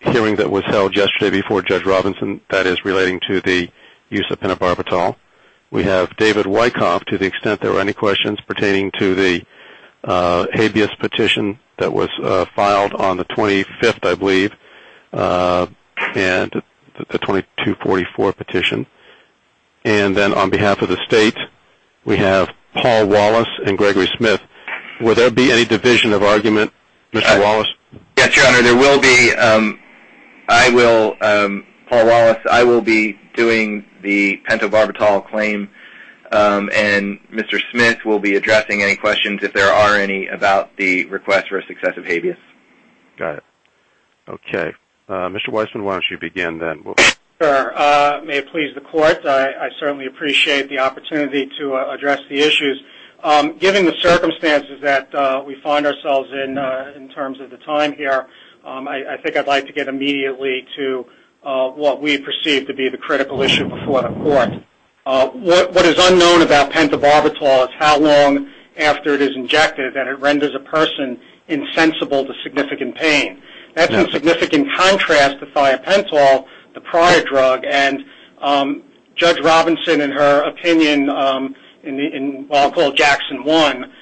hearing that was held yesterday before Judge Robinson, that is relating to the use of pentobarbital. We have David Wyckoff, to the extent there are any questions pertaining to the habeas petition that was filed on the 25th, I believe, and the 2244 petition. And then on behalf of the state, we have Paul Wallace and Gregory Smith. Will there be any division of argument, Mr. Wallace? Yes, Your Honor, there will be. I will, Paul Wallace, I will be doing the pentobarbital claim, and Mr. Smith will be addressing any questions, if there are any, about the request for a successive habeas. Got it. Okay. Mr. Weissman, why don't you begin then? Sure. Given the circumstances that we find ourselves in, in terms of the time here, I think I'd like to get immediately to what we perceive to be the critical issue before the Court. What is unknown about pentobarbital is how long after it is injected that it renders a person insensible to significant pain. That's in significant contrast to thiopentol, the prior drug, and Judge Robinson, in her trial, Jackson 1,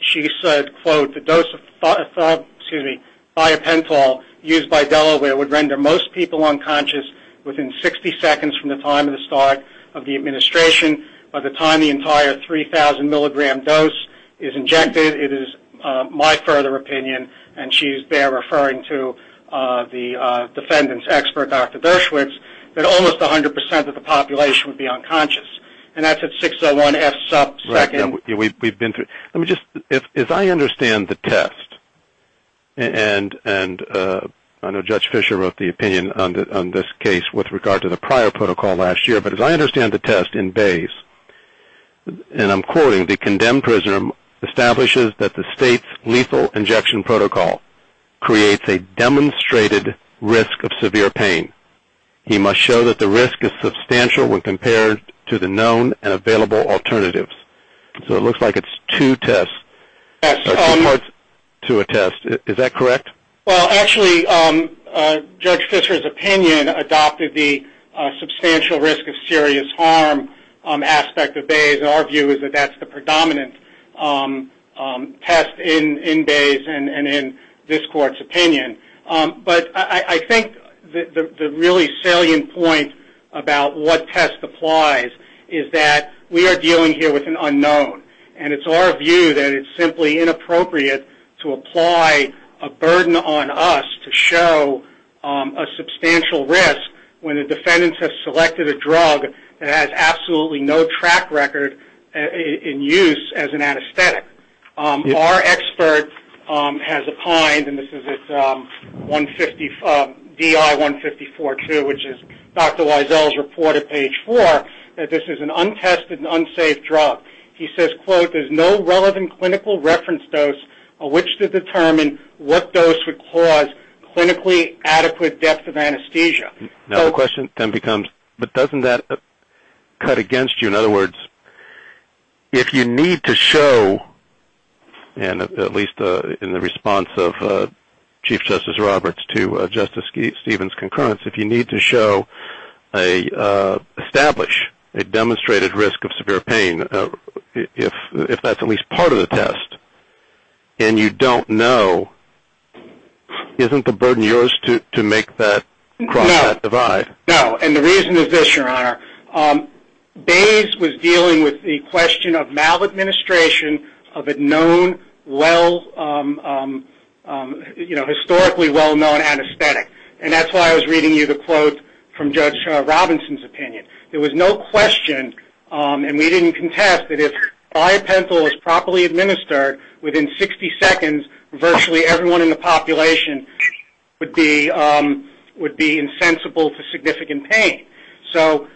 she said, quote, the dose of thopentol used by Delaware would render most people unconscious within 60 seconds from the time of the start of the administration. By the time the entire 3,000 milligram dose is injected, it is my further opinion, and she's there referring to the defendant's expert, Dr. Dershowitz, that almost 100% of the population would be unconscious. And that's at 601 F sub second. Right. We've been through. Let me just, as I understand the test, and I know Judge Fisher wrote the opinion on this case with regard to the prior protocol last year, but as I understand the test in Bayes, and I'm quoting, the condemned prisoner establishes that the state's lethal injection protocol creates a demonstrated risk of severe pain. He must show that the risk is substantial when compared to the known and available alternatives. So it looks like it's two tests, two parts to a test. Is that correct? Well, actually, Judge Fisher's opinion adopted the substantial risk of serious harm aspect of Bayes, and our view is that that's the predominant test in Bayes and in this court's opinion. But I think the really salient point about what test applies is that we are dealing here with an unknown, and it's our view that it's simply inappropriate to apply a burden on us to show a substantial risk when the defendants have selected a drug that has absolutely no track record in use as an anesthetic. Our expert has opined, and this is at DI-154-2, which is Dr. Wiesel's report at page four, that this is an untested and unsafe drug. He says, quote, there's no relevant clinical reference dose on which to determine what dose would cause clinically adequate depth of anesthesia. Now the question then becomes, but doesn't that cut against you? In other words, if you need to show, and at least in the response of Chief Justice Roberts to Justice Stevens' concurrence, if you need to show, establish a demonstrated risk of severe pain, if that's at least part of the test, and you don't know, isn't the burden yours to make that cross that divide? No. No, and the reason is this, Your Honor, Bayes was dealing with the question of maladministration of a known, historically well-known anesthetic, and that's why I was reading you the quote from Judge Robinson's opinion. There was no question, and we didn't contest, that if biopental was properly administered, within 60 seconds, virtually everyone in the population would be insensible to significant pain. So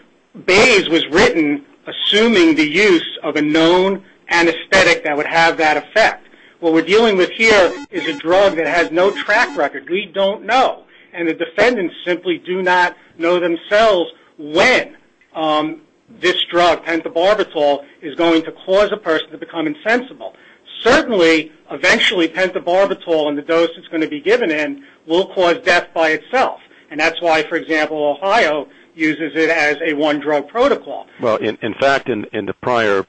Bayes was written assuming the use of a known anesthetic that would have that effect. What we're dealing with here is a drug that has no track record. We don't know, and the defendants simply do not know themselves when this drug, pentobarbital, is going to cause a person to become insensible. Certainly, eventually pentobarbital and the dose it's going to be given in will cause death by itself, and that's why, for example, Ohio uses it as a one-drug protocol. Well, in fact, in the prior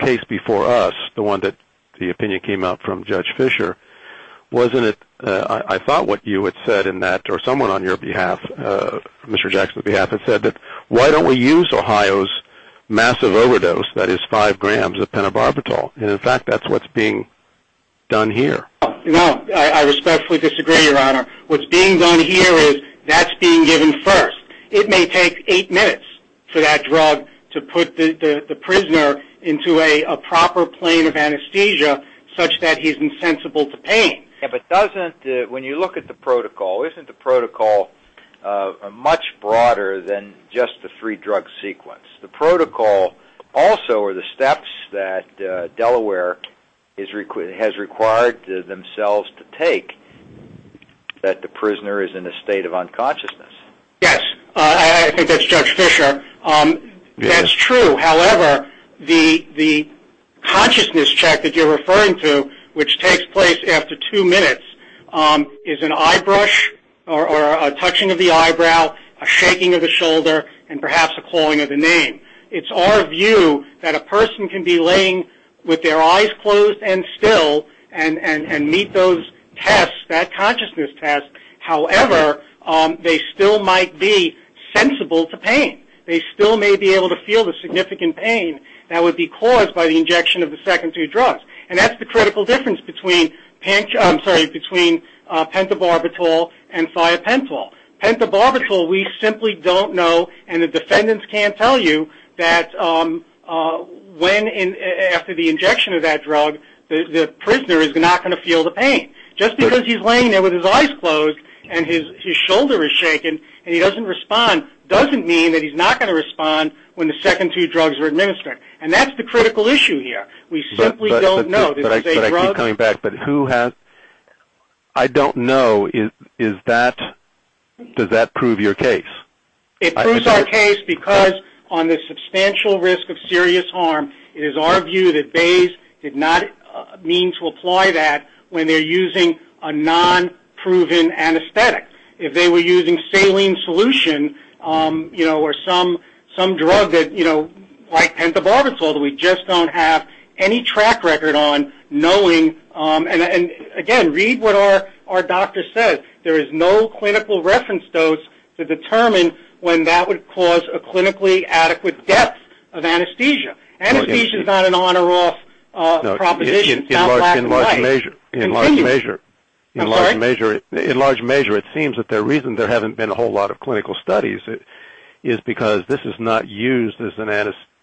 case before us, the one that the opinion came out from Judge Fisher, wasn't it, I thought what you had said in that, or someone on your behalf, Mr. Fisher, that we use Ohio's massive overdose, that is 5 grams of pentobarbital, and in fact that's what's being done here. No, I respectfully disagree, Your Honor. What's being done here is that's being given first. It may take 8 minutes for that drug to put the prisoner into a proper plane of anesthesia such that he's insensible to pain. Yeah, but doesn't, when you look at the protocol, isn't the protocol much broader than just the three-drug sequence? The protocol also are the steps that Delaware has required themselves to take that the prisoner is in a state of unconsciousness. Yes, I think that's Judge Fisher, that's true, however, the consciousness check that you're referring to, which takes place after 2 minutes, is an eye brush, or a touching of the eyebrow, a shaking of the shoulder, and perhaps a calling of the name. It's our view that a person can be laying with their eyes closed and still and meet those tests, that consciousness test, however, they still might be sensible to pain. They still may be able to feel the significant pain that would be caused by the injection of the second two drugs, and that's the critical difference between pentobarbital and thiopentol. Pentobarbital we simply don't know, and the defendants can't tell you, that when, after the injection of that drug, the prisoner is not going to feel the pain. Just because he's laying there with his eyes closed, and his shoulder is shaking, and he doesn't respond, doesn't mean that he's not going to respond when the second two drugs are administered. And that's the critical issue here. We simply don't know. But I keep coming back, but who has, I don't know, is that, does that prove your case? It proves our case because on the substantial risk of serious harm, it is our view that Bayes did not mean to apply that when they're using a non-proven anesthetic. If they were using saline solution, you know, or some drug that, you know, like pentobarbital, we just don't have any track record on knowing, and again, read what our doctor says. There is no clinical reference dose to determine when that would cause a clinically adequate death of anesthesia. Anesthesia is not an on or off proposition. In large measure, it seems that the reason there haven't been a whole lot of clinical studies is because this is not used as an anesthetic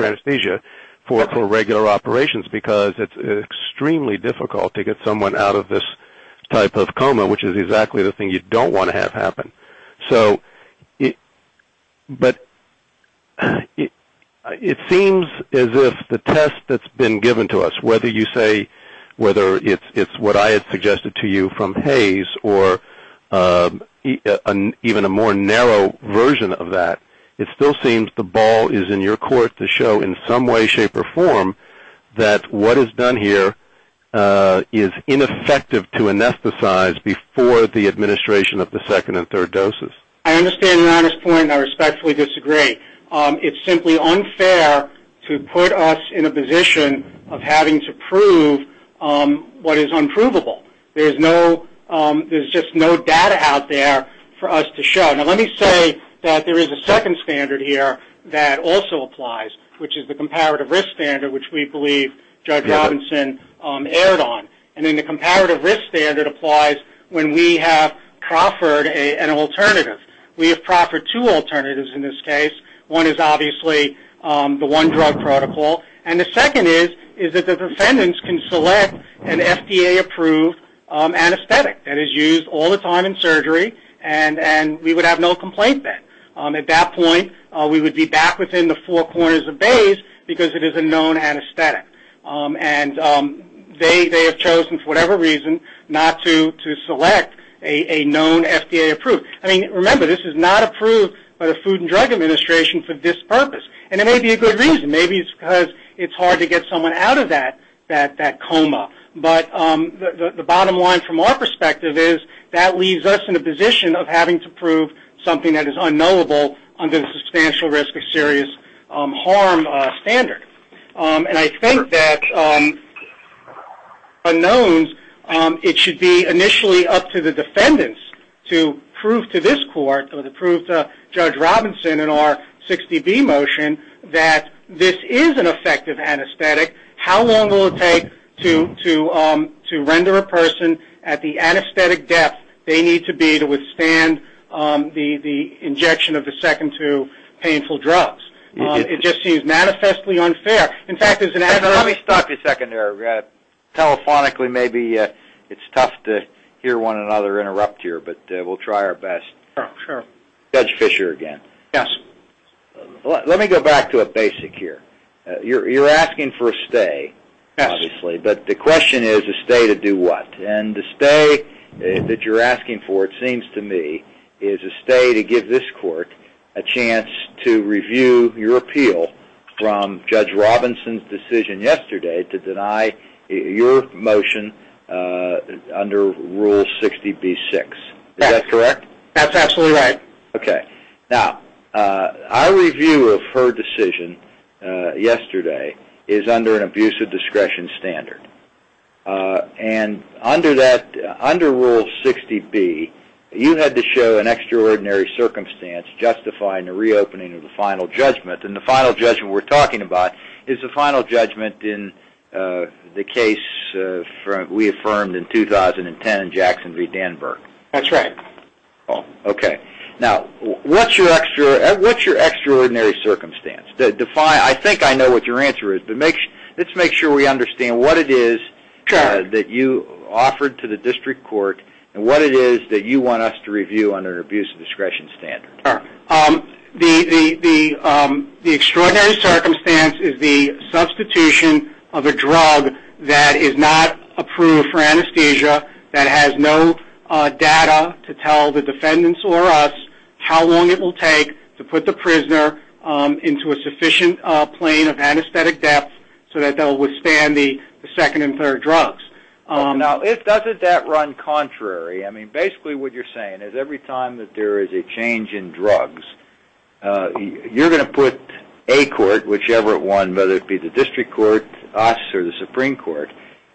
or anesthesia for regular operations because it's extremely difficult to get someone out of this type of coma, which is exactly the thing you don't want to have happen. So, but it seems as if the test that's been given to us, whether you say, whether it's what I had suggested to you from Bayes or even a more narrow version of that, it still seems the ball is in your court to show in some way, shape, or form that what is done here is ineffective to anesthetize before the administration of the second and third doses. I understand your honest point and I respectfully disagree. It's simply unfair to put us in a position of having to prove what is unprovable. There's no, there's just no data out there for us to show. Now, let me say that there is a second standard here that also applies, which is the comparative risk standard, which we believe Judge Robinson erred on, and then the comparative risk standard applies when we have proffered an alternative. We have proffered two alternatives in this case. One is obviously the one drug protocol and the second is, is that the defendants can select an FDA approved anesthetic that is used all the time in surgery and we would have no complaint then. At that point, we would be back within the four corners of Bayes because it is a known anesthetic and they have chosen, for whatever reason, not to select a known FDA approved. I mean, remember, this is not approved by the Food and Drug Administration for this purpose and it may be a good reason. Maybe it's because it's hard to get someone out of that, that, that coma, but the bottom line from our perspective is that leaves us in a position of having to prove something that is unknowable under the substantial risk of serious harm standard. And I think that unknowns, it should be initially up to the defendants to prove to this court or to prove to Judge Robinson in our 60B motion that this is an effective anesthetic. How long will it take to, to, to render a person at the anesthetic depth they need to be to withstand the, the injection of the second two painful drugs? It just seems manifestly unfair. In fact, there's an... Let me stop you a second there. Telephonically, maybe it's tough to hear one another interrupt here, but we'll try our best. Sure. Judge Fischer again. Yes. Let me go back to a basic here. You're asking for a stay, obviously, but the question is a stay to do what? And the stay that you're asking for, it seems to me, is a stay to give this court a chance to review your appeal from Judge Robinson's decision yesterday to deny your motion under Rule 60B-6. Yes. Is that correct? That's absolutely right. Okay. Now, our review of her decision yesterday is under an abuse of discretion standard. And under that, under Rule 60B, you had to show an extraordinary circumstance justifying the reopening of the final judgment. And the final judgment we're talking about is the final judgment in the case we affirmed in 2010 in Jackson v. Danburg. That's right. Oh. Okay. Now, what's your extraordinary circumstance? Define... I think I know what your answer is, but let's make sure we understand what it is that you offered to the district court and what it is that you want us to review under an abuse of discretion standard. The extraordinary circumstance is the substitution of a drug that is not approved for anesthesia that has no data to tell the defendants or us how long it will take to put the prisoner into a sufficient plane of anesthetic depth so that they'll withstand the second and third drugs. Okay. Now, doesn't that run contrary? I mean, basically what you're saying is every time that there is a change in drugs, you're going to put a court, whichever one, whether it be the district court, us, or the Supreme Court,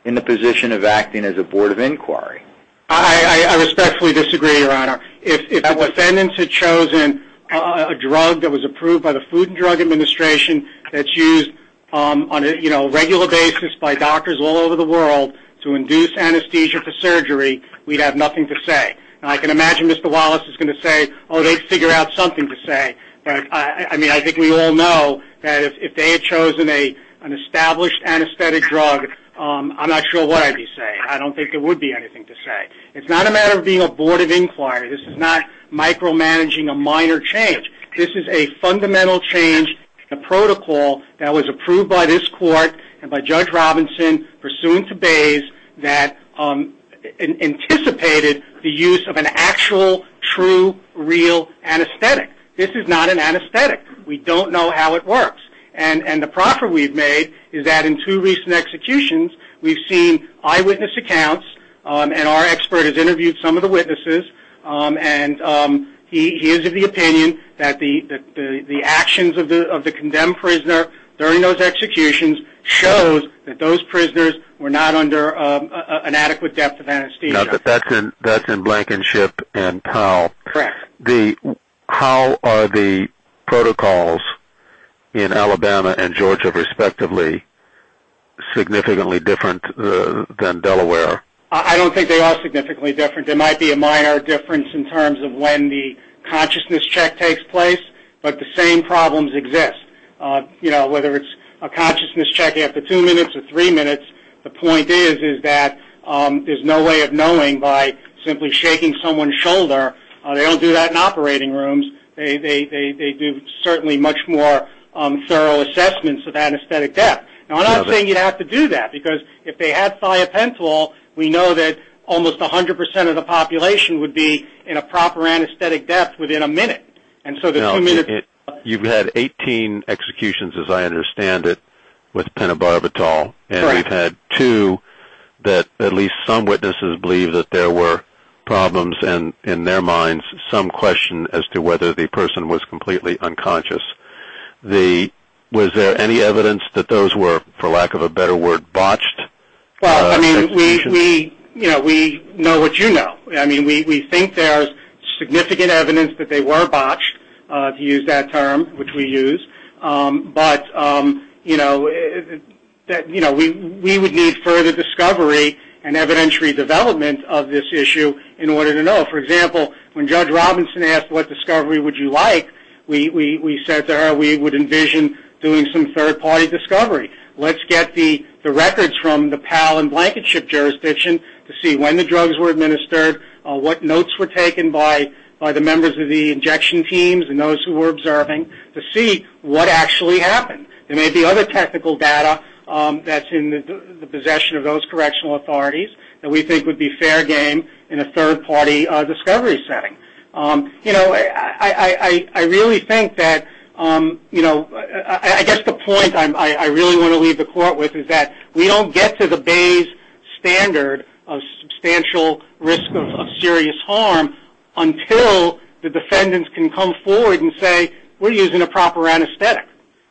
in the position of acting as a board of inquiry. I respectfully disagree, Your Honor. If defendants had chosen a drug that was approved by the Food and Drug Administration that's used on a regular basis by doctors all over the world to induce anesthesia for surgery, we'd have nothing to say. And I can imagine Mr. Wallace is going to say, oh, they'd figure out something to say. But, I mean, I think we all know that if they had chosen an established anesthetic drug, I'm not sure what I'd be saying. I don't think there would be anything to say. It's not a matter of being a board of inquiry. This is not micromanaging a minor change. This is a fundamental change in the protocol that was approved by this court and by Judge Anticipated the use of an actual, true, real anesthetic. This is not an anesthetic. We don't know how it works. And the proffer we've made is that in two recent executions, we've seen eyewitness accounts, and our expert has interviewed some of the witnesses, and he is of the opinion that the actions of the condemned prisoner during those executions shows that those prisoners were not under an adequate depth of anesthesia. Now, but that's in Blankenship and Powell. Correct. How are the protocols in Alabama and Georgia, respectively, significantly different than Delaware? I don't think they are significantly different. There might be a minor difference in terms of when the consciousness check takes place, but the same problems exist. You know, whether it's a consciousness check after two minutes or three minutes, the point is that there's no way of knowing by simply shaking someone's shoulder. They don't do that in operating rooms. They do certainly much more thorough assessments of anesthetic depth. Now, I'm not saying you'd have to do that, because if they had thiopental, we know that almost 100 percent of the population would be in a proper anesthetic depth within a minute. You've had 18 executions, as I understand it, with pentobarbital. Correct. And we've had two that at least some witnesses believe that there were problems, and in their minds, some question as to whether the person was completely unconscious. Was there any evidence that those were, for lack of a better word, botched executions? Well, I mean, we know what you know. I mean, we think there's significant evidence that they were botched, to use that term, which we use. But, you know, we would need further discovery and evidentiary development of this issue in order to know. For example, when Judge Robinson asked what discovery would you like, we said to her we would envision doing some third-party discovery. Let's get the records from the PAL and Blankenship jurisdiction to see when the drugs were administered, what notes were taken by the members of the injection teams and those who were observing, to see what actually happened. There may be other technical data that's in the possession of those correctional authorities that we think would be fair game in a third-party discovery setting. You know, I really think that, you know, I guess the point I really want to leave the harm until the defendants can come forward and say we're using a proper anesthetic.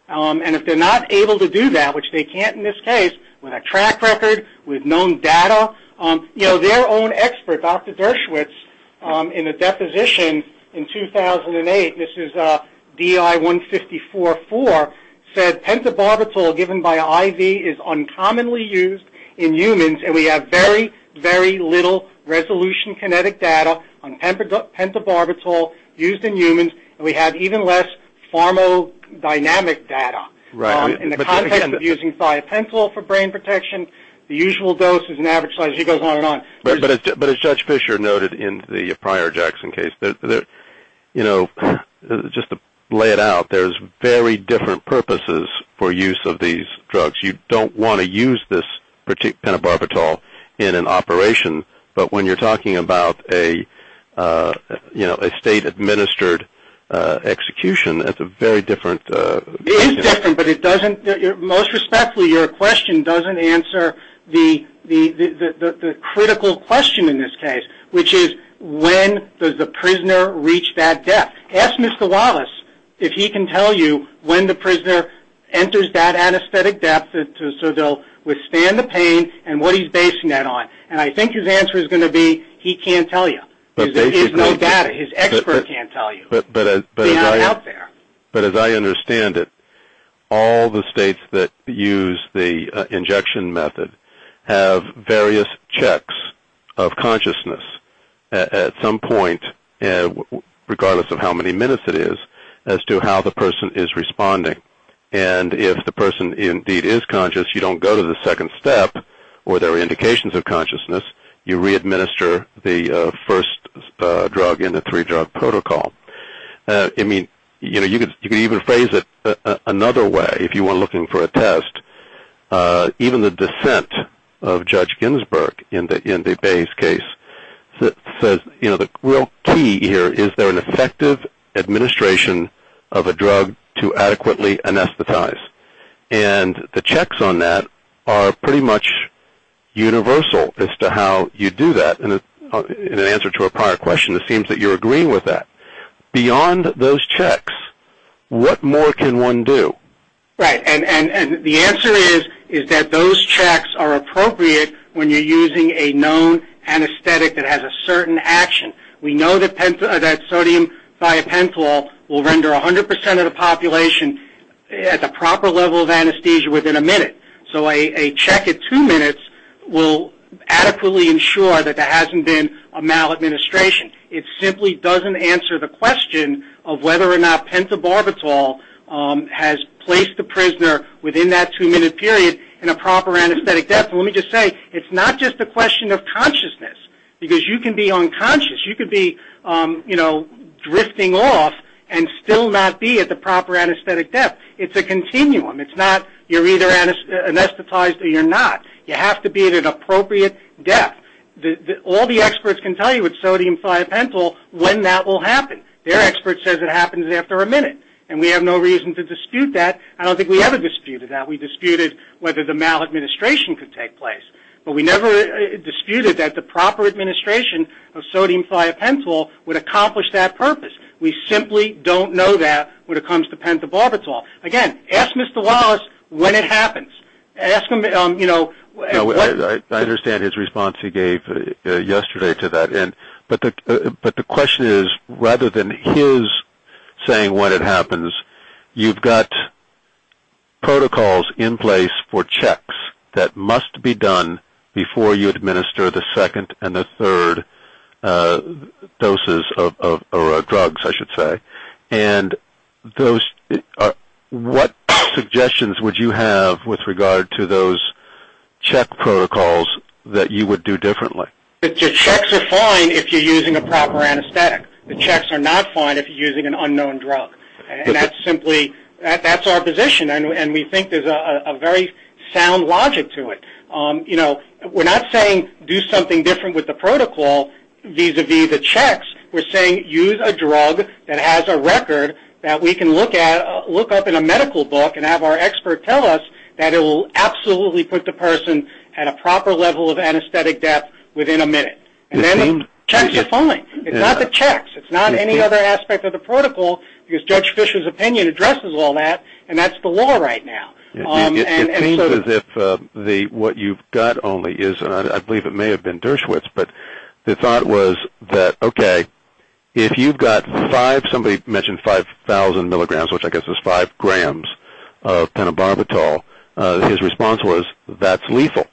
And if they're not able to do that, which they can't in this case, with a track record, with known data, you know, their own expert, Dr. Dershowitz, in a deposition in 2008, this is DI-154-4, said pentobarbital given by IV is uncommonly used in humans and we have very, very little resolution kinetic data on pentobarbital used in humans and we have even less pharmacodynamic data. Right. In the context of using thiopental for brain protection, the usual dose is an average size, it goes on and on. But as Judge Fischer noted in the prior Jackson case, you know, just to lay it out, there's very different purposes for use of these drugs. You don't want to use this pentobarbital in an operation, but when you're talking about a, you know, a state-administered execution, that's a very different... It is different, but it doesn't... Most respectfully, your question doesn't answer the critical question in this case, which is when does the prisoner reach that depth? Ask Mr. Wallace if he can tell you when the prisoner enters that anesthetic depth so they'll withstand the pain and what he's basing that on. And I think his answer is going to be he can't tell you because there is no data, his expert can't tell you. But as I understand it, all the states that use the injection method have various checks of consciousness at some point, regardless of how many minutes it is, as to how the person is responding. And if the person indeed is conscious, you don't go to the second step or there are indications of consciousness, you re-administer the first drug in the three-drug protocol. I mean, you know, you could even phrase it another way if you were looking for a test. Even the dissent of Judge Ginsburg in the Bayes case says, you know, the real key here is is there an effective administration of a drug to adequately anesthetize? And the checks on that are pretty much universal as to how you do that. And in answer to a prior question, it seems that you're agreeing with that. Beyond those checks, what more can one do? Right. And the answer is that those checks are appropriate when you're using a known anesthetic that has a certain action. We know that sodium thiopentol will render 100 percent of the population at the proper level of anesthesia within a minute. So a check at two minutes will adequately ensure that there hasn't been a maladministration. It simply doesn't answer the question of whether or not pentobarbital has placed the prisoner within that two-minute period in a proper anesthetic depth. And let me just say, it's not just a question of consciousness because you can be unconscious. You could be, you know, drifting off and still not be at the proper anesthetic depth. It's a continuum. It's not you're either anesthetized or you're not. You have to be at an appropriate depth. All the experts can tell you it's sodium thiopentol when that will happen. Their expert says it happens after a minute. And we have no reason to dispute that. I don't think we ever disputed that. We disputed whether the maladministration could take place. But we never disputed that the proper administration of sodium thiopentol would accomplish that purpose. We simply don't know that when it comes to pentobarbital. Again, ask Mr. Wallace when it happens. Ask him, you know. I understand his response he gave yesterday to that. But the question is, rather than his saying when it happens, you've got protocols in place for checks that must be done before you administer the second and the third doses of drugs, I should say. And what suggestions would you have with regard to those check protocols that you would do differently? The checks are fine if you're using a proper anesthetic. The checks are not fine if you're using an unknown drug. And that's simply, that's our position. And we think there's a very sound logic to it. You know, we're not saying do something different with the protocol vis-à-vis the checks. We're saying use a drug that has a record that we can look at, look up in a medical book and have our expert tell us that it will absolutely put the person at a proper level of anesthetic depth within a minute. And then the checks are fine. It's not the checks. It's not any other aspect of the protocol because Judge Fisher's opinion addresses all that, and that's the law right now. It seems as if what you've got only is, and I believe it may have been Dershowitz, but the thought was that, okay, if you've got five, somebody mentioned 5,000 milligrams, which I guess is five grams of penobarbital, his response was that's lethal.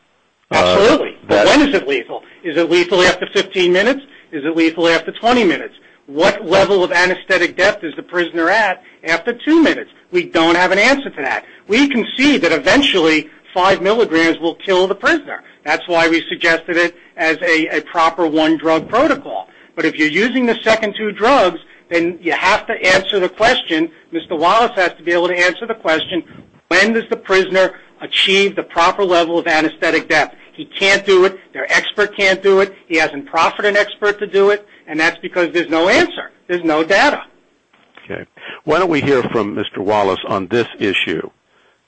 Absolutely. When is it lethal? Is it lethal after 15 minutes? Is it lethal after 20 minutes? What level of anesthetic depth is the prisoner at after two minutes? We don't have an answer to that. We concede that eventually five milligrams will kill the prisoner. That's why we suggested it as a proper one-drug protocol. But if you're using the second two drugs, then you have to answer the question, Mr. Wallace has to be able to answer the question, when does the prisoner achieve the proper level of anesthetic depth? He can't do it. Their expert can't do it. He hasn't profited an expert to do it, and that's because there's no answer. There's no data. Okay. Why don't we hear from Mr. Wallace on this issue,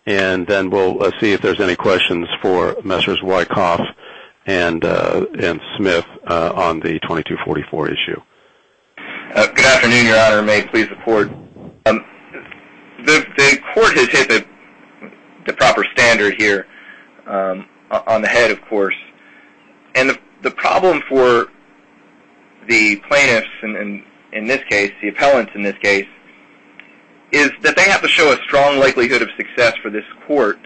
and then we'll see if there's any questions for Messrs. Wyckoff and Smith on the 2244 issue. Good afternoon, Your Honor. May it please the Court. The Court has hit the proper standard here on the head, of course, and the problem for the plaintiffs in this case, the appellants in this case, is that they have to show a strong likelihood of success for this court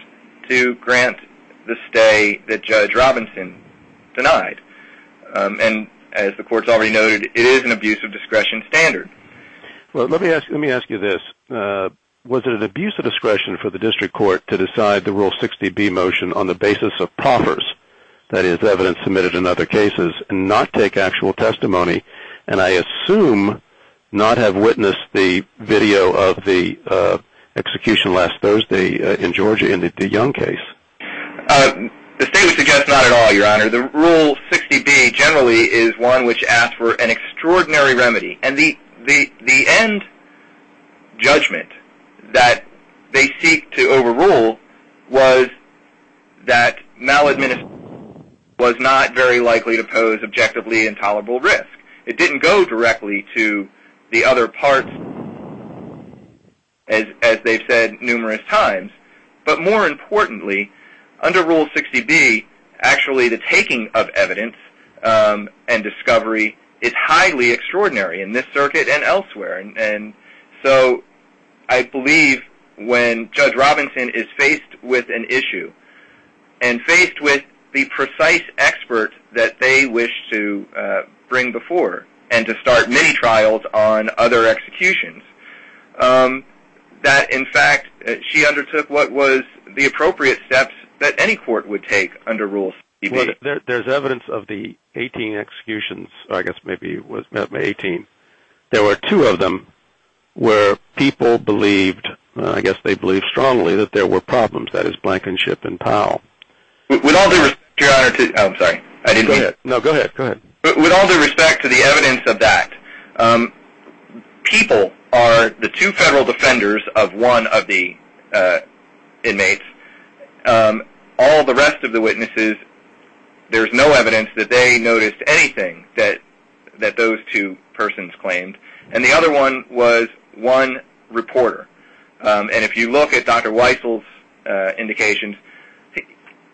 to grant the stay that Judge Robinson denied. And as the Court's already noted, it is an abuse of discretion standard. Well, let me ask you this. Was it an abuse of discretion for the district court to decide the Rule 60B motion on the basis of proffers, that is, evidence submitted in other cases, and not take actual testimony, and I assume not have witnessed the video of the execution last Thursday in Georgia in the Young case? The statement suggests not at all, Your Honor. The Rule 60B generally is one which asks for an extraordinary remedy, and the end judgment that they seek to overrule was that maladministration was not very likely to pose objectively intolerable risk. It didn't go directly to the other parts, as they've said numerous times, but more importantly, under Rule 60B, actually the taking of evidence and discovery is highly extraordinary, in this circuit and elsewhere. And so I believe when Judge Robinson is faced with an issue, and faced with the precise expert that they wish to bring before, and to start many trials on other executions, that, in fact, she undertook what was the appropriate steps that any court would take under Rule 60B. There's evidence of the 18 executions, I guess maybe it was May 18, there were two of them where people believed, I guess they believed strongly, that there were problems, that is, Blankenship and Powell. With all due respect, Your Honor, to the evidence of that, people are the two federal defenders of one of the inmates. All the rest of the witnesses, there's no evidence that they noticed anything that those two persons claimed. And the other one was one reporter. And if you look at Dr. Weissel's indications,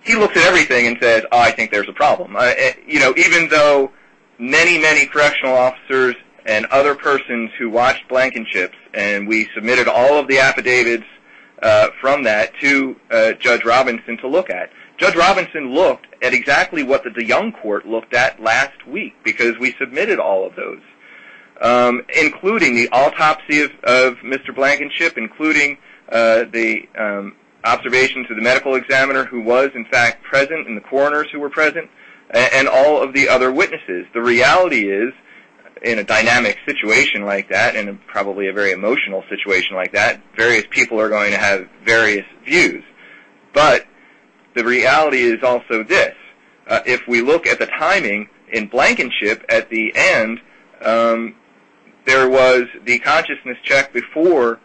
he looked at everything and said, oh, I think there's a problem. Even though many, many correctional officers and other persons who watched Blankenship, and we submitted all of the affidavits from that to Judge Robinson to look at. Judge Robinson looked at exactly what the young court looked at last week, because we submitted all of those, including the autopsy of Mr. Blankenship, including the observation to the medical examiner who was, in fact, present, and the coroners who were present, and all of the other witnesses. The reality is, in a dynamic situation like that, and probably a very emotional situation like that, various people are going to have various views. But the reality is also this. If we look at the timing, in Blankenship, at the end, there was the consciousness check before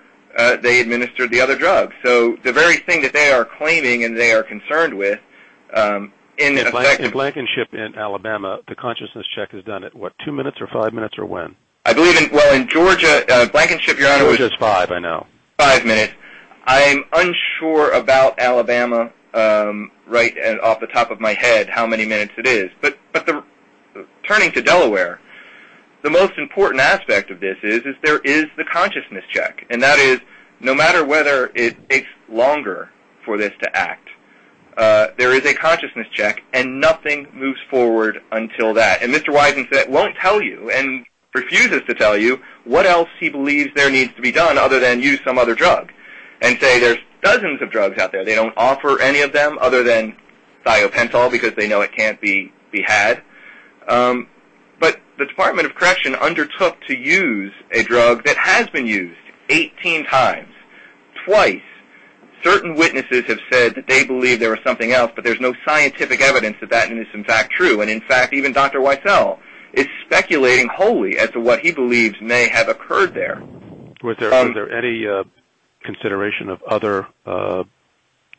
they administered the other drug. So the very thing that they are claiming and they are concerned with in effect. In Blankenship in Alabama, the consciousness check is done at, what, two minutes or five minutes or when? I believe in, well, in Georgia, Blankenship, Your Honor, was five minutes. I'm unsure about Alabama, right off the top of my head, how many minutes it is. But turning to Delaware, the most important aspect of this is there is the consciousness check. And that is, no matter whether it takes longer for this to act, there is a consciousness check, and nothing moves forward until that. And Mr. Wyden won't tell you, and refuses to tell you, what else he believes there needs to be done other than use some other drug. And say there's dozens of drugs out there, they don't offer any of them other than thiopental, because they know it can't be had. But the Department of Correction undertook to use a drug that has been used 18 times, twice. Certain witnesses have said that they believe there was something else, but there's no scientific evidence that that is in fact true. And in fact, even Dr. Wiesel is speculating wholly as to what he believes may have occurred there. Was there any consideration of other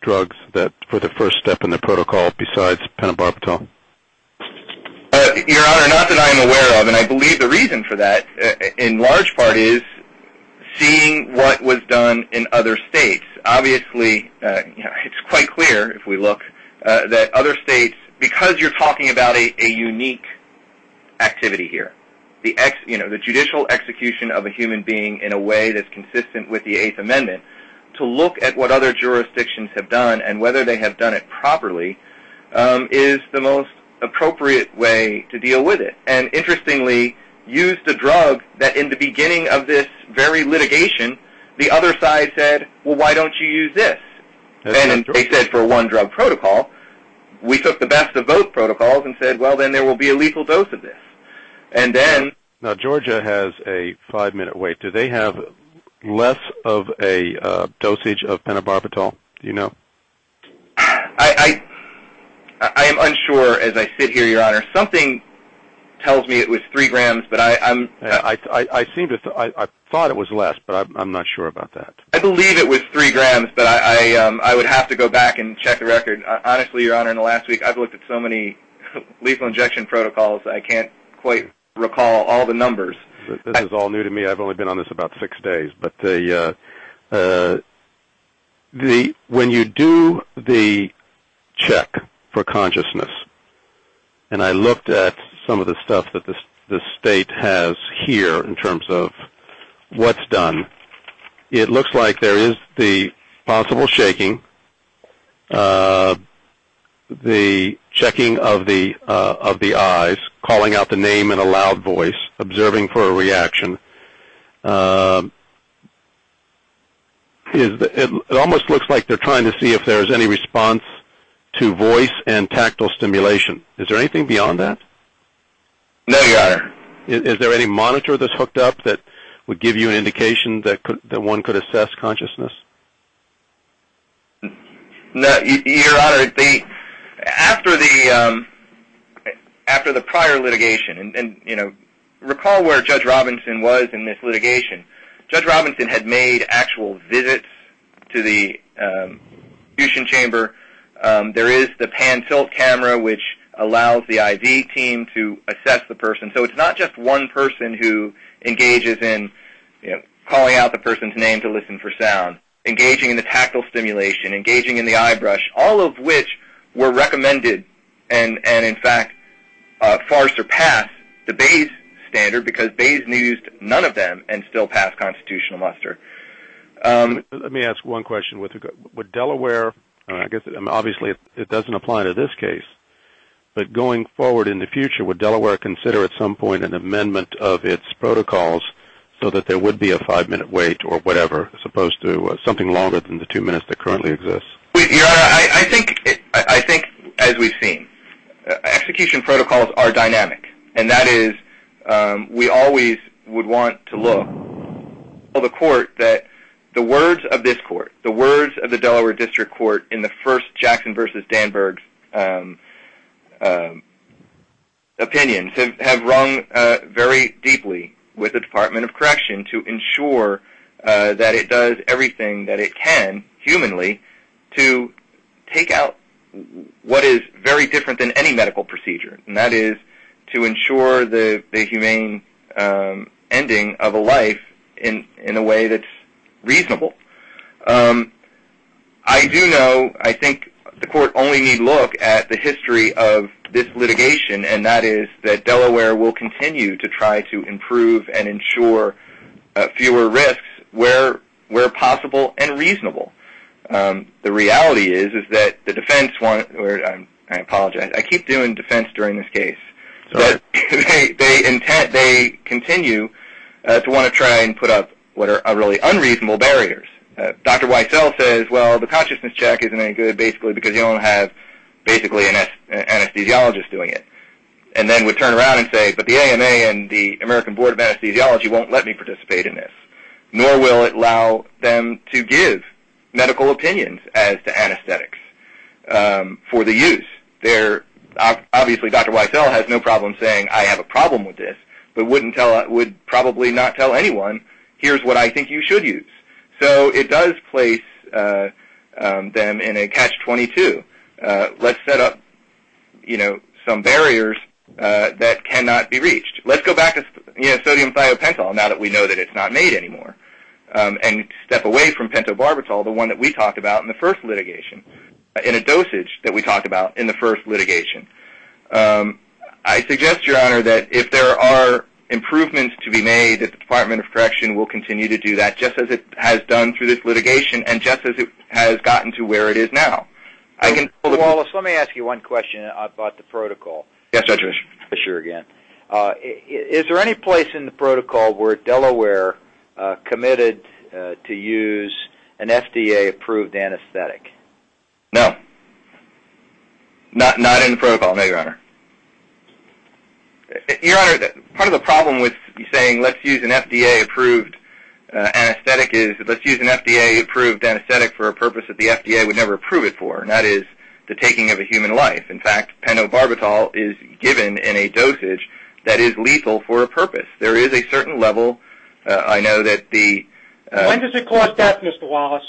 drugs for the first step in the protocol besides pentobarbital? Your Honor, not that I am aware of. And I believe the reason for that, in large part, is seeing what was done in other states. Obviously, it's quite clear, if we look, that other states, because you're talking about a unique activity here, the judicial execution of a human being in a way that's consistent with the Eighth Amendment, to look at what other jurisdictions have done, and whether they have done it properly, is the most appropriate way to deal with it. And interestingly, used a drug that in the beginning of this very litigation, the other side said, well, why don't you use this? And they said for a one-drug protocol. We took the best-of-both protocols and said, well, then there will be a lethal dose of this. Now, Georgia has a five-minute wait. Do they have less of a dosage of pentobarbital? Do you know? I am unsure as I sit here, Your Honor. Something tells me it was three grams. I thought it was less, but I'm not sure about that. I believe it was three grams, but I would have to go back and check the record. Honestly, Your Honor, in the last week I've looked at so many lethal injection protocols, I can't quite recall all the numbers. This is all new to me. I've only been on this about six days. But when you do the check for consciousness, and I looked at some of the stuff that the state has here in terms of what's done, it looks like there is the possible shaking, the checking of the eyes, calling out the name in a loud voice, observing for a reaction. It almost looks like they're trying to see if there is any response to voice and tactile stimulation. Is there anything beyond that? No, Your Honor. Is there any monitor that's hooked up that would give you an indication that one could assess consciousness? No, Your Honor. After the prior litigation, and recall where Judge Robinson was in this litigation. Judge Robinson had made actual visits to the institution chamber. There is the pan-tilt camera, which allows the IV team to assess the person. So it's not just one person who engages in calling out the person's name to listen for sound. Engaging in the tactile stimulation, engaging in the eye brush, all of which were recommended and in fact far surpassed the Bayes standard because Bayes used none of them and still passed constitutional muster. Let me ask one question. Would Delaware, I guess obviously it doesn't apply to this case, but going forward in the future, would Delaware consider at some point an amendment of its protocols so that there would be a five-minute wait or whatever, as opposed to something longer than the two minutes that currently exist? Your Honor, I think, as we've seen, execution protocols are dynamic, and that is we always would want to look for the court that the words of this court, the words of the Delaware District Court in the first Jackson v. Danburg opinion, have rung very deeply with the Department of Correction to ensure that it does everything that it can, humanly, to take out what is very different than any medical procedure, and that is to ensure the humane ending of a life in a way that's reasonable. I do know, I think the court only need look at the history of this litigation, and that is that Delaware will continue to try to improve and ensure fewer risks where possible and reasonable. The reality is that the defense, I apologize, I keep doing defense during this case, but they continue to want to try and put up what are really unreasonable barriers. Dr. Weissel says, well, the consciousness check isn't any good, because you don't have, basically, an anesthesiologist doing it, and then would turn around and say, but the AMA and the American Board of Anesthesiology won't let me participate in this, nor will it allow them to give medical opinions as to anesthetics for the use. Obviously, Dr. Weissel has no problem saying, I have a problem with this, but would probably not tell anyone, here's what I think you should use. So it does place them in a catch-22. Let's set up some barriers that cannot be reached. Let's go back to sodium thiopental, now that we know that it's not made anymore, and step away from pentobarbital, the one that we talked about in the first litigation, in a dosage that we talked about in the first litigation. I suggest, Your Honor, that if there are improvements to be made, that the Department of Correction will continue to do that, just as it has done through this litigation, and just as it has gotten to where it is now. Wallace, let me ask you one question about the protocol. Yes, Judge Risch. Is there any place in the protocol where Delaware committed to use an FDA-approved anesthetic? Not in the protocol, no, Your Honor. Your Honor, part of the problem with saying, let's use an FDA-approved anesthetic, is let's use an FDA-approved anesthetic for a purpose that the FDA would never approve it for, and that is the taking of a human life. In fact, pentobarbital is given in a dosage that is lethal for a purpose. There is a certain level, I know that the... When does it cause death, Mr. Wallace?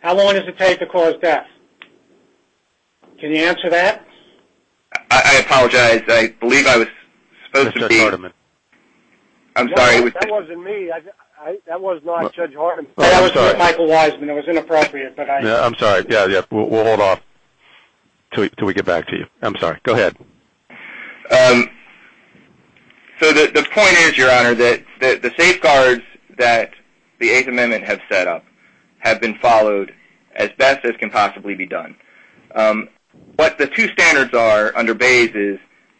How long does it take to cause death? Can you answer that? I apologize. I believe I was supposed to be... Judge Hartiman. I'm sorry. That wasn't me. That was not Judge Hartiman. That was Michael Wiseman. It was inappropriate, but I... I'm sorry. We'll hold off until we get back to you. I'm sorry. Go ahead. The point is, Your Honor, that the safeguards that the Eighth Amendment has set up have been followed as best as can possibly be done. What the two standards are under Bayes is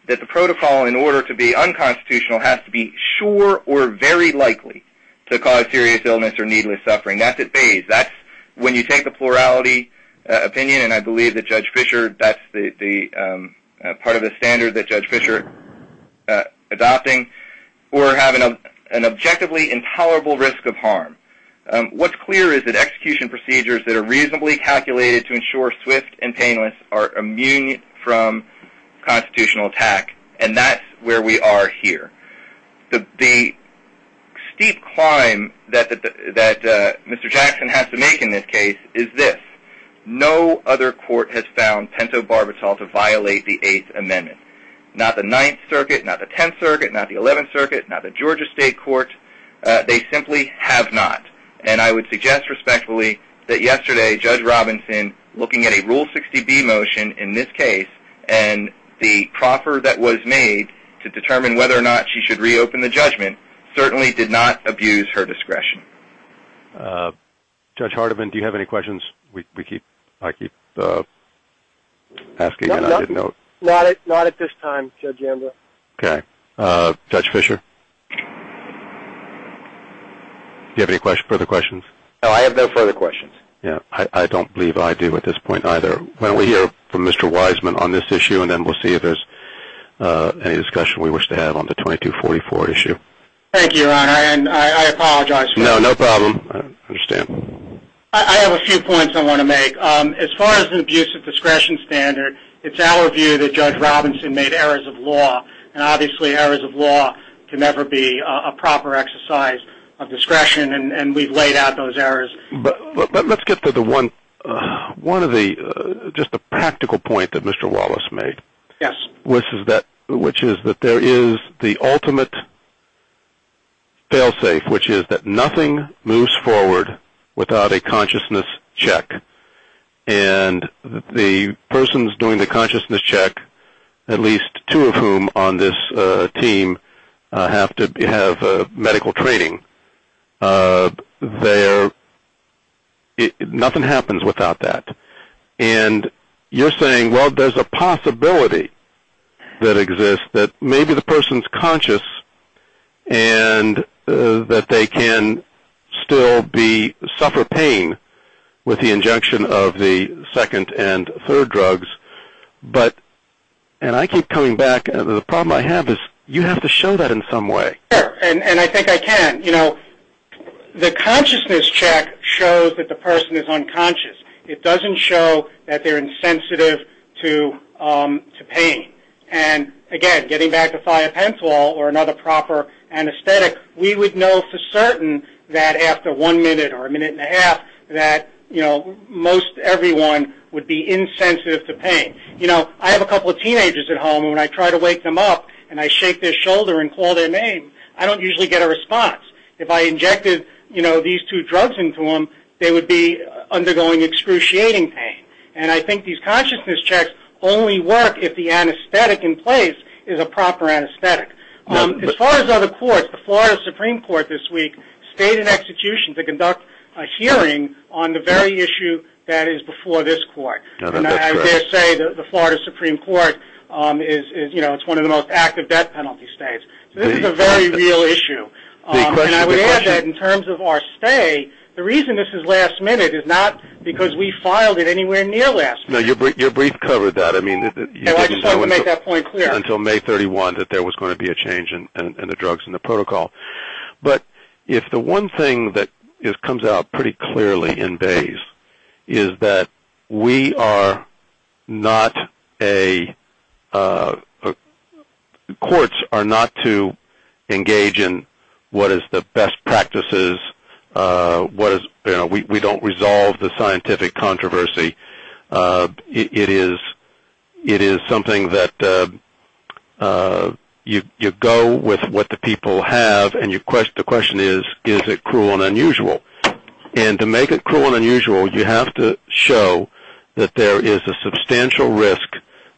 that the protocol, in order to be unconstitutional, has to be sure or very likely to cause serious illness or needless suffering. That's at Bayes. That's when you take the plurality opinion, and I believe that Judge Fischer, that's part of the standard that Judge Fischer is adopting, or have an objectively intolerable risk of harm. What's clear is that execution procedures that are reasonably calculated to ensure swift and painless are immune from constitutional attack, and that's where we are here. The steep climb that Mr. Jackson has to make in this case is this. No other court has found pento barbital to violate the Eighth Amendment. Not the Ninth Circuit, not the Tenth Circuit, not the Eleventh Circuit, not the Georgia State Court. They simply have not, and I would suggest respectfully that yesterday Judge Robinson, looking at a Rule 60B motion in this case and the proffer that was made to determine whether or not she should reopen the judgment, certainly did not abuse her discretion. Judge Hardiman, do you have any questions? I keep asking and I didn't know. Not at this time, Judge Amber. Okay. Judge Fischer? Do you have any further questions? No, I have no further questions. I don't believe I do at this point either. Why don't we hear from Mr. Wiseman on this issue and then we'll see if there's any discussion we wish to have on the 2244 issue. Thank you, Your Honor, and I apologize for that. No, no problem. I understand. I have a few points I want to make. As far as an abusive discretion standard, it's our view that Judge Robinson made errors of law, and obviously errors of law can never be a proper exercise of discretion, and we've laid out those errors. But let's get to just the practical point that Mr. Wallace made. Yes. Which is that there is the ultimate fail-safe, which is that nothing moves forward without a consciousness check, and the person who's doing the consciousness check, at least two of whom on this team have medical training, nothing happens without that. And you're saying, well, there's a possibility that exists that maybe the person's conscious and that they can still suffer pain with the injunction of the second and third drugs, but, and I keep coming back, the problem I have is you have to show that in some way. Sure, and I think I can. You know, the consciousness check shows that the person is unconscious. It doesn't show that they're insensitive to pain. And, again, getting back to thiopental or another proper anesthetic, we would know for certain that after one minute or a minute and a half that, you know, most everyone would be insensitive to pain. You know, I have a couple of teenagers at home, and when I try to wake them up and I shake their shoulder and call their name, I don't usually get a response. If I injected, you know, these two drugs into them, they would be undergoing excruciating pain. And I think these consciousness checks only work if the anesthetic in place is a proper anesthetic. As far as other courts, the Florida Supreme Court this week state an execution to conduct a hearing on the very issue that is before this court. And I dare say that the Florida Supreme Court is, you know, it's one of the most active death penalty states. So this is a very real issue. And I would add that in terms of our stay, the reason this is last minute is not because we filed it anywhere near last minute. No, your brief covered that. I just wanted to make that point clear. Until May 31 that there was going to be a change in the drugs and the protocol. But if the one thing that comes out pretty clearly in Bayes is that we are not a – courts are not to engage in what is the best practices, you know, we don't resolve the scientific controversy. It is something that you go with what the people have. And the question is, is it cruel and unusual? And to make it cruel and unusual, you have to show that there is a substantial risk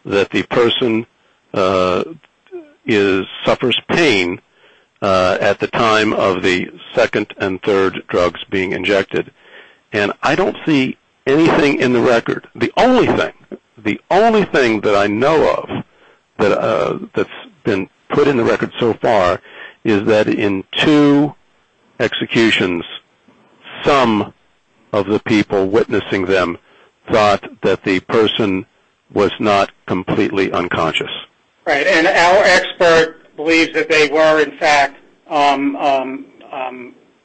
that the person suffers pain at the time of the second and third drugs being injected. And I don't see anything in the record. The only thing that I know of that's been put in the record so far is that in two executions, some of the people witnessing them thought that the person was not completely unconscious. Right. And our expert believes that they were in fact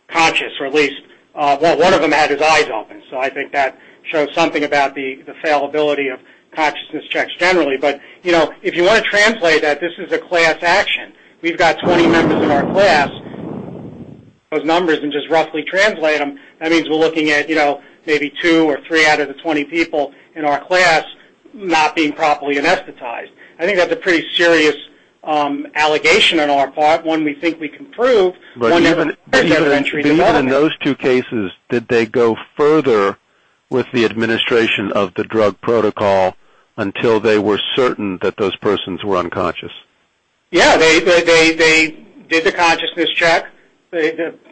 conscious, or at least one of them had his eyes open. So I think that shows something about the fallibility of consciousness checks generally. But, you know, if you want to translate that, this is a class action. We've got 20 members in our class. Those numbers, and just roughly translate them, that means we're looking at, you know, maybe two or three out of the 20 people in our class not being properly anesthetized. I think that's a pretty serious allegation on our part, one we think we can prove. But even in those two cases, did they go further with the administration of the drug protocol until they were certain that those persons were unconscious? Yeah, they did the consciousness check.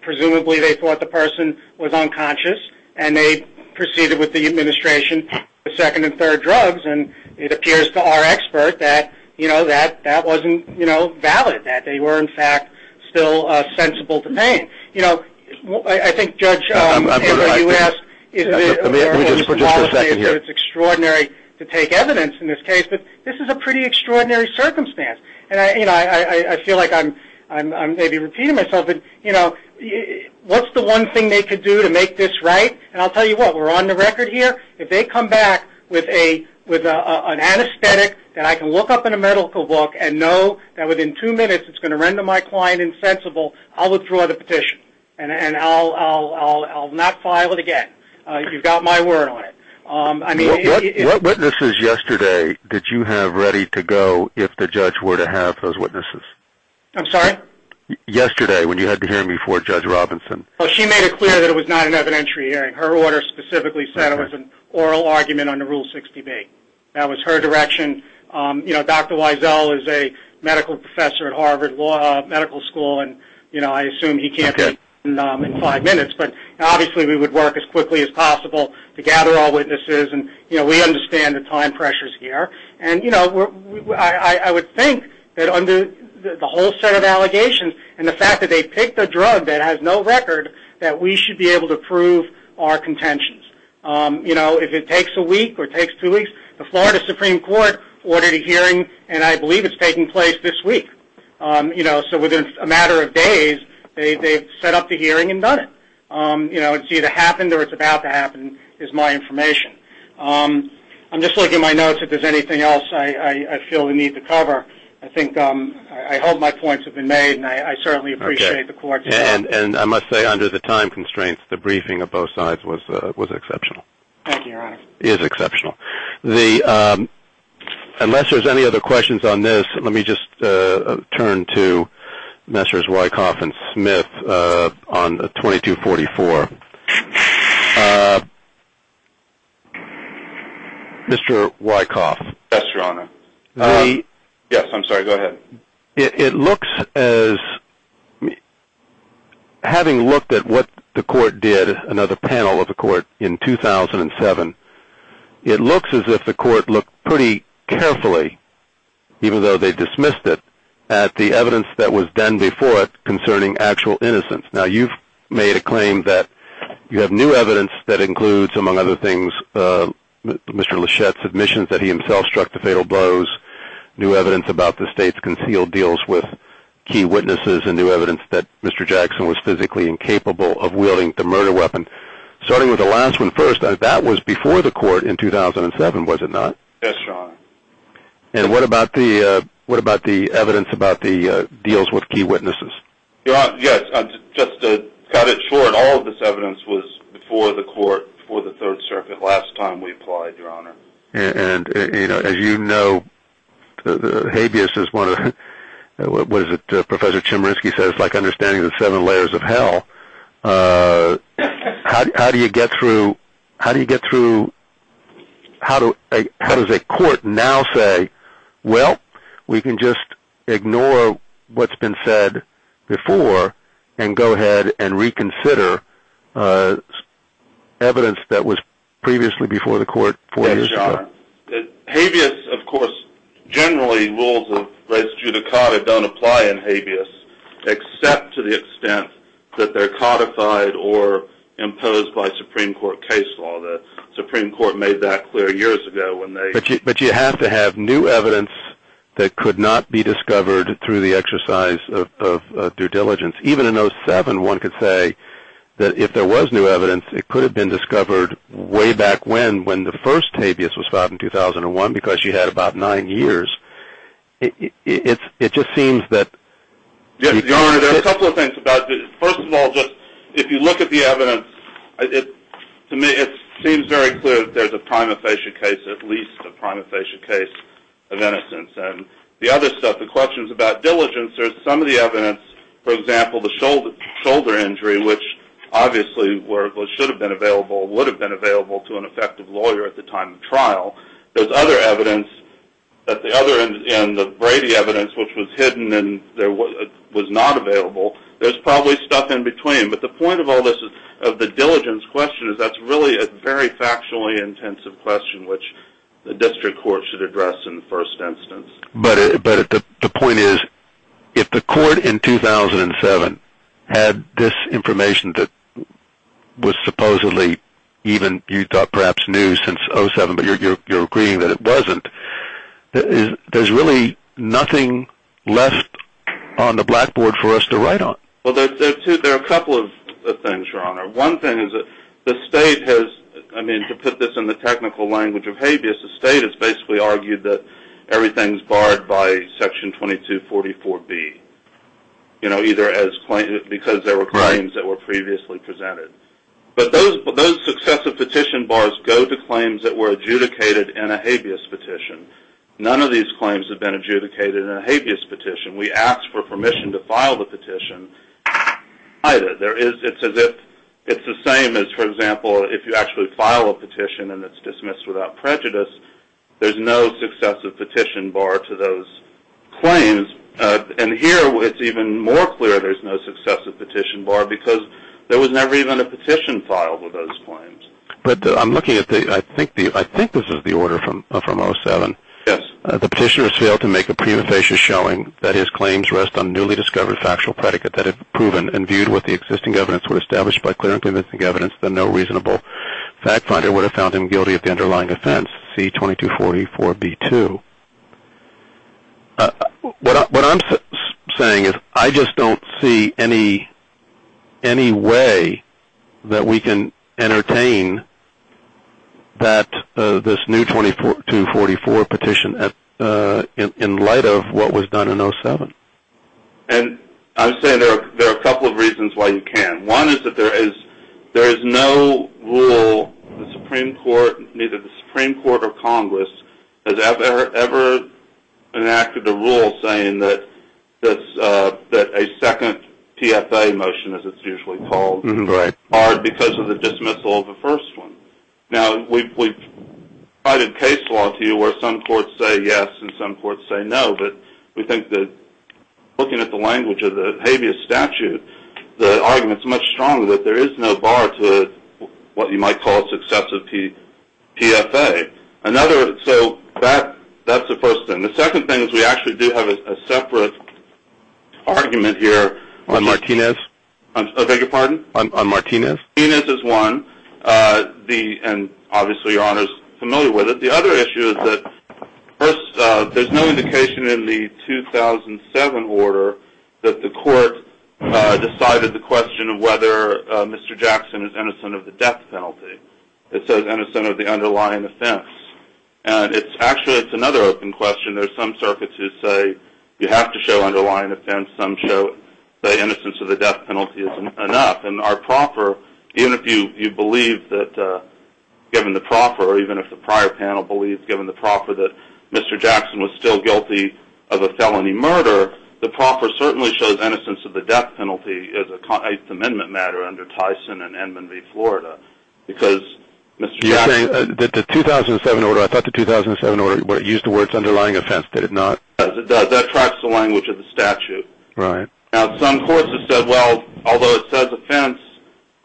Presumably they thought the person was unconscious, and they proceeded with the administration of the second and third drugs. And it appears to our expert that, you know, that wasn't, you know, valid, that they were, in fact, still sensible to pain. You know, I think, Judge, let me just put this back in here. It's extraordinary to take evidence in this case, but this is a pretty extraordinary circumstance. And, you know, I feel like I'm maybe repeating myself, but, you know, what's the one thing they could do to make this right? And I'll tell you what, we're on the record here. If they come back with an anesthetic that I can look up in a medical book and know that within two minutes it's going to render my client insensible, I'll withdraw the petition. And I'll not file it again. You've got my word on it. What witnesses yesterday did you have ready to go if the judge were to have those witnesses? I'm sorry? Yesterday, when you had to hear me for Judge Robinson. Well, she made it clear that it was not an evidentiary hearing. Her order specifically said it was an oral argument under Rule 68. That was her direction. You know, Dr. Wiesel is a medical professor at Harvard Medical School, and, you know, I assume he can't do it in five minutes. But, obviously, we would work as quickly as possible to gather all witnesses. And, you know, we understand the time pressures here. And, you know, I would think that under the whole set of allegations and the fact that they picked a drug that has no record, that we should be able to prove our contentions. You know, if it takes a week or takes two weeks, the Florida Supreme Court ordered a hearing, and I believe it's taking place this week. You know, so within a matter of days they've set up the hearing and done it. You know, it's either happened or it's about to happen is my information. I'm just looking at my notes if there's anything else I feel the need to cover. I think I hope my points have been made, and I certainly appreciate the court's help. And I must say, under the time constraints, the briefing of both sides was exceptional. Thank you, Your Honor. It is exceptional. Unless there's any other questions on this, let me just turn to Messrs. Wyckoff and Smith on 2244. Mr. Wyckoff. Yes, Your Honor. Yes, I'm sorry. Go ahead. It looks as, having looked at what the court did, another panel of the court in 2007, it looks as if the court looked pretty carefully, even though they dismissed it, at the evidence that was done before it concerning actual innocence. Now, you've made a claim that you have new evidence that includes, among other things, Mr. LeChet's admissions that he himself struck the fatal blows, new evidence about the state's concealed deals with key witnesses, and new evidence that Mr. Jackson was physically incapable of wielding the murder weapon. Starting with the last one first, that was before the court in 2007, was it not? Yes, Your Honor. And what about the evidence about the deals with key witnesses? Your Honor, yes, just to cut it short, all of this evidence was before the court, before the Third Circuit, last time we applied, Your Honor. And, as you know, habeas is one of the, what is it, Professor Chemerinsky says, it's like understanding the seven layers of hell. How do you get through, how does a court now say, well, we can just ignore what's been said before, and go ahead and reconsider evidence that was previously before the court four years ago? Yes, Your Honor. Habeas, of course, generally rules of res judicata don't apply in habeas, except to the extent that they're codified or imposed by Supreme Court case law. The Supreme Court made that clear years ago when they... But you have to have new evidence that could not be discovered through the exercise of due diligence. Even in those seven, one could say that if there was new evidence, it could have been discovered way back when, when the first habeas was filed in 2001, because you had about nine years. It just seems that... Yes, Your Honor, there are a couple of things about this. First of all, just if you look at the evidence, to me it seems very clear that there's a prima facie case, at least a prima facie case of innocence. And the other stuff, the questions about diligence, there's some of the evidence, for example, the shoulder injury, which obviously should have been available, would have been available to an effective lawyer at the time of trial. There's other evidence, and the Brady evidence, which was hidden and was not available. There's probably stuff in between. But the point of all this, of the diligence question, is that's really a very factually intensive question, which the district court should address in the first instance. But the point is, if the court in 2007 had this information that was supposedly, even you thought perhaps new since 2007, but you're agreeing that it wasn't, there's really nothing left on the blackboard for us to write on. Well, there are a couple of things, Your Honor. One thing is that the state has, I mean, to put this in the technical language of habeas, the state has basically argued that everything's barred by Section 2244B, either because there were claims that were previously presented. But those successive petition bars go to claims that were adjudicated in a habeas petition. None of these claims have been adjudicated in a habeas petition. We asked for permission to file the petition. It's as if it's the same as, for example, if you actually file a petition and it's dismissed without prejudice, there's no successive petition bar to those claims. And here it's even more clear there's no successive petition bar because there was never even a petition filed with those claims. But I'm looking at the, I think this is the order from 2007. Yes. The petitioner has failed to make a prima facie showing that his claims rest on newly discovered factual predicate that had proven and viewed what the existing evidence would establish by clearing convincing evidence that no reasonable fact finder would have found him guilty of the underlying offense, C2244B2. What I'm saying is I just don't see any way that we can entertain this new 2244 petition in light of what was done in 2007. And I'm saying there are a couple of reasons why you can. One is that there is no rule, the Supreme Court, neither the Supreme Court or Congress, has ever enacted a rule saying that a second PFA motion, as it's usually called, are because of the dismissal of the first one. Now, we've provided case law to you where some courts say yes and some courts say no, but we think that looking at the language of the habeas statute, the argument is much stronger that there is no bar to what you might call a successive PFA. So that's the first thing. The second thing is we actually do have a separate argument here. On Martinez? I beg your pardon? On Martinez? Martinez is one, and obviously your Honor is familiar with it. But the other issue is that, first, there's no indication in the 2007 order that the court decided the question of whether Mr. Jackson is innocent of the death penalty. It says innocent of the underlying offense. Actually, it's another open question. There are some circuits who say you have to show underlying offense. Some say innocence of the death penalty is enough and are proper, even if you believe that, given the proper, or even if the prior panel believes, given the proper that Mr. Jackson was still guilty of a felony murder, the proper certainly shows innocence of the death penalty as an Eighth Amendment matter under Tyson and Enman v. Florida. You're saying that the 2007 order, I thought the 2007 order used the words underlying offense. Did it not? Yes, it does. That tracks the language of the statute. Right. Now, some courts have said, well, although it says offense,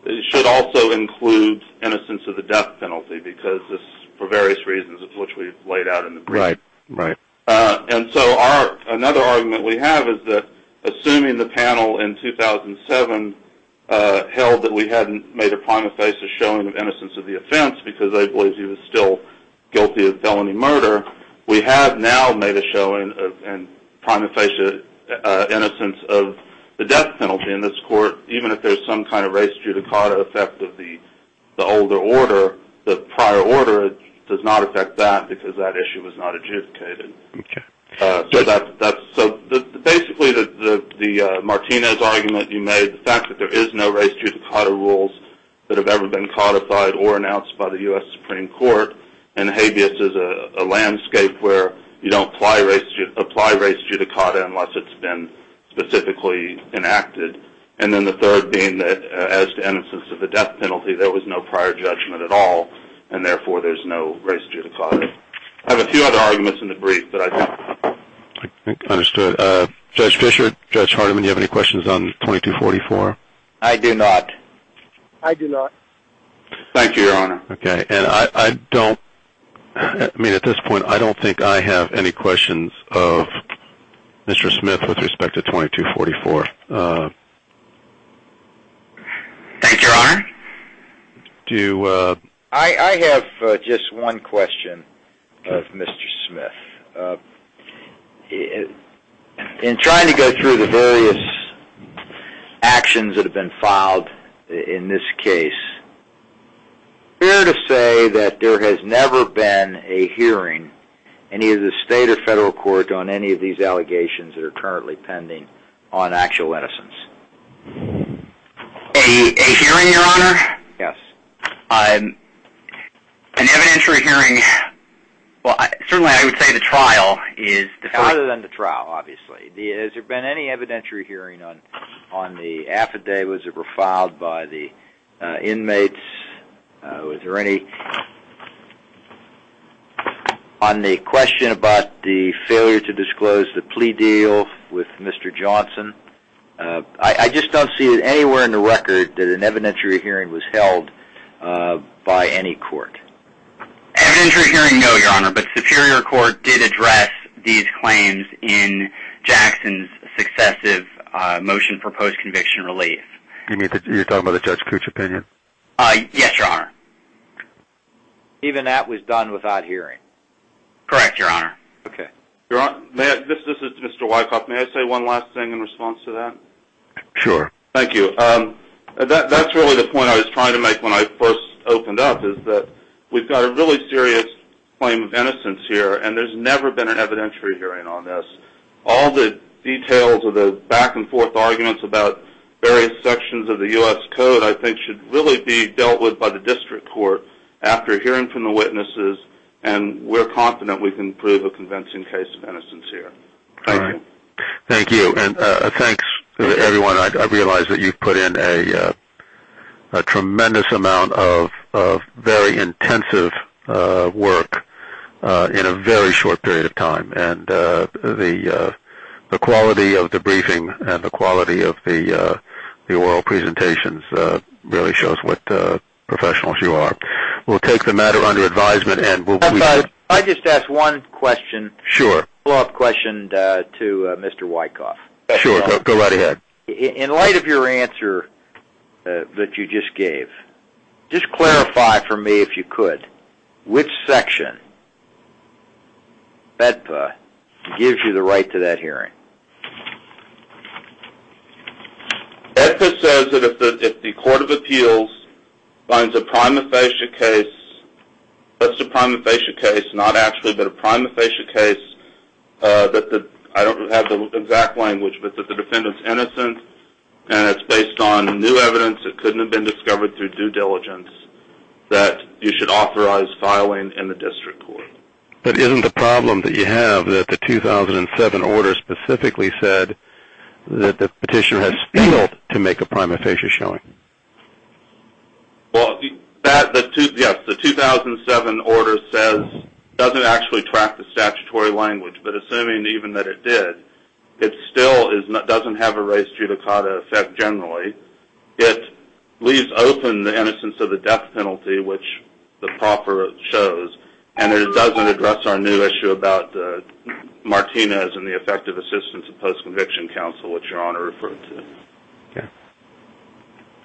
it should also include innocence of the death penalty because it's for various reasons, which we've laid out in the brief. Right, right. And so another argument we have is that, assuming the panel in 2007 held that we hadn't made a prima facie showing of innocence of the offense because they believed he was still guilty of felony murder, we have now made a showing in prima facie innocence of the death penalty in this court, even if there's some kind of res judicata effect of the older order, the prior order does not affect that because that issue was not adjudicated. Okay. So basically the Martinez argument you made, the fact that there is no res judicata rules that have ever been codified or announced by the U.S. Supreme Court, and habeas is a landscape where you don't apply res judicata unless it's been specifically enacted. And then the third being that, as to innocence of the death penalty, there was no prior judgment at all, and therefore there's no res judicata. I have a few other arguments in the brief, but I think... Understood. Judge Fischer, Judge Hardiman, do you have any questions on 2244? I do not. I do not. Thank you, Your Honor. Okay. And I don't, I mean at this point I don't think I have any questions of Mr. Smith with respect to 2244. Thank you, Your Honor. Do you... I have just one question of Mr. Smith. In trying to go through the various actions that have been filed in this case, is it fair to say that there has never been a hearing, any of the state or federal court, on any of these allegations that are currently pending on actual innocence? A hearing, Your Honor? Yes. An evidentiary hearing, certainly I would say the trial is... Other than the trial, obviously. Has there been any evidentiary hearing on the affidavits that were filed by the inmates? Was there any on the question about the failure to disclose the plea deal with Mr. Johnson? I just don't see it anywhere in the record that an evidentiary hearing was held by any court. Evidentiary hearing, no, Your Honor, but Superior Court did address these claims in Jackson's successive motion for post-conviction relief. You mean, you're talking about the Judge Cooch opinion? Yes, Your Honor. Even that was done without hearing? Correct, Your Honor. Okay. Your Honor, this is Mr. Wyckoff. May I say one last thing in response to that? Sure. Thank you. That's really the point I was trying to make when I first opened up, is that we've got a really serious claim of innocence here, and there's never been an evidentiary hearing on this. All the details of the back-and-forth arguments about various sections of the U.S. Code, I think, should really be dealt with by the district court after hearing from the witnesses, and we're confident we can prove a convincing case of innocence here. Thank you. Thank you. And thanks, everyone. I realize that you've put in a tremendous amount of very intensive work in a very short period of time, and the quality of the briefing and the quality of the oral presentations really shows what professionals you are. We'll take the matter under advisement. If I could just ask one question. Sure. A follow-up question to Mr. Wyckoff. Sure. Go right ahead. In light of your answer that you just gave, just clarify for me, if you could, which section of AEDPA gives you the right to that hearing? AEDPA says that if the Court of Appeals finds a prima facie case, just a prima facie case, not actually, but a prima facie case that the, I don't have the exact language, but that the defendant is innocent and it's based on new evidence that couldn't have been discovered through due diligence, that you should authorize filing in the district court. But isn't the problem that you have that the 2007 order specifically said that the petitioner has failed to make a prima facie showing? Well, yes, the 2007 order says, doesn't actually track the statutory language, but assuming even that it did, it still doesn't have a res judicata effect generally. It leaves open the innocence of the death penalty, which the proffer shows, and it doesn't address our new issue about Martinez and the effective assistance of post-conviction counsel, which Your Honor referred to.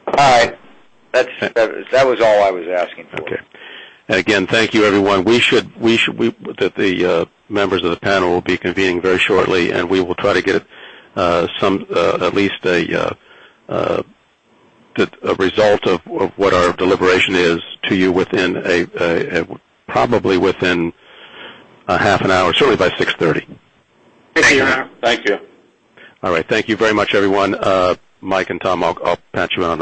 All right. That was all I was asking for. Again, thank you, everyone. The members of the panel will be convening very shortly, and we will try to get at least a result of what our deliberation is to you probably within half an hour, certainly by 630. Thank you, Your Honor. Thank you. All right. Thank you very much, everyone. Mike and Tom, I'll pass you on.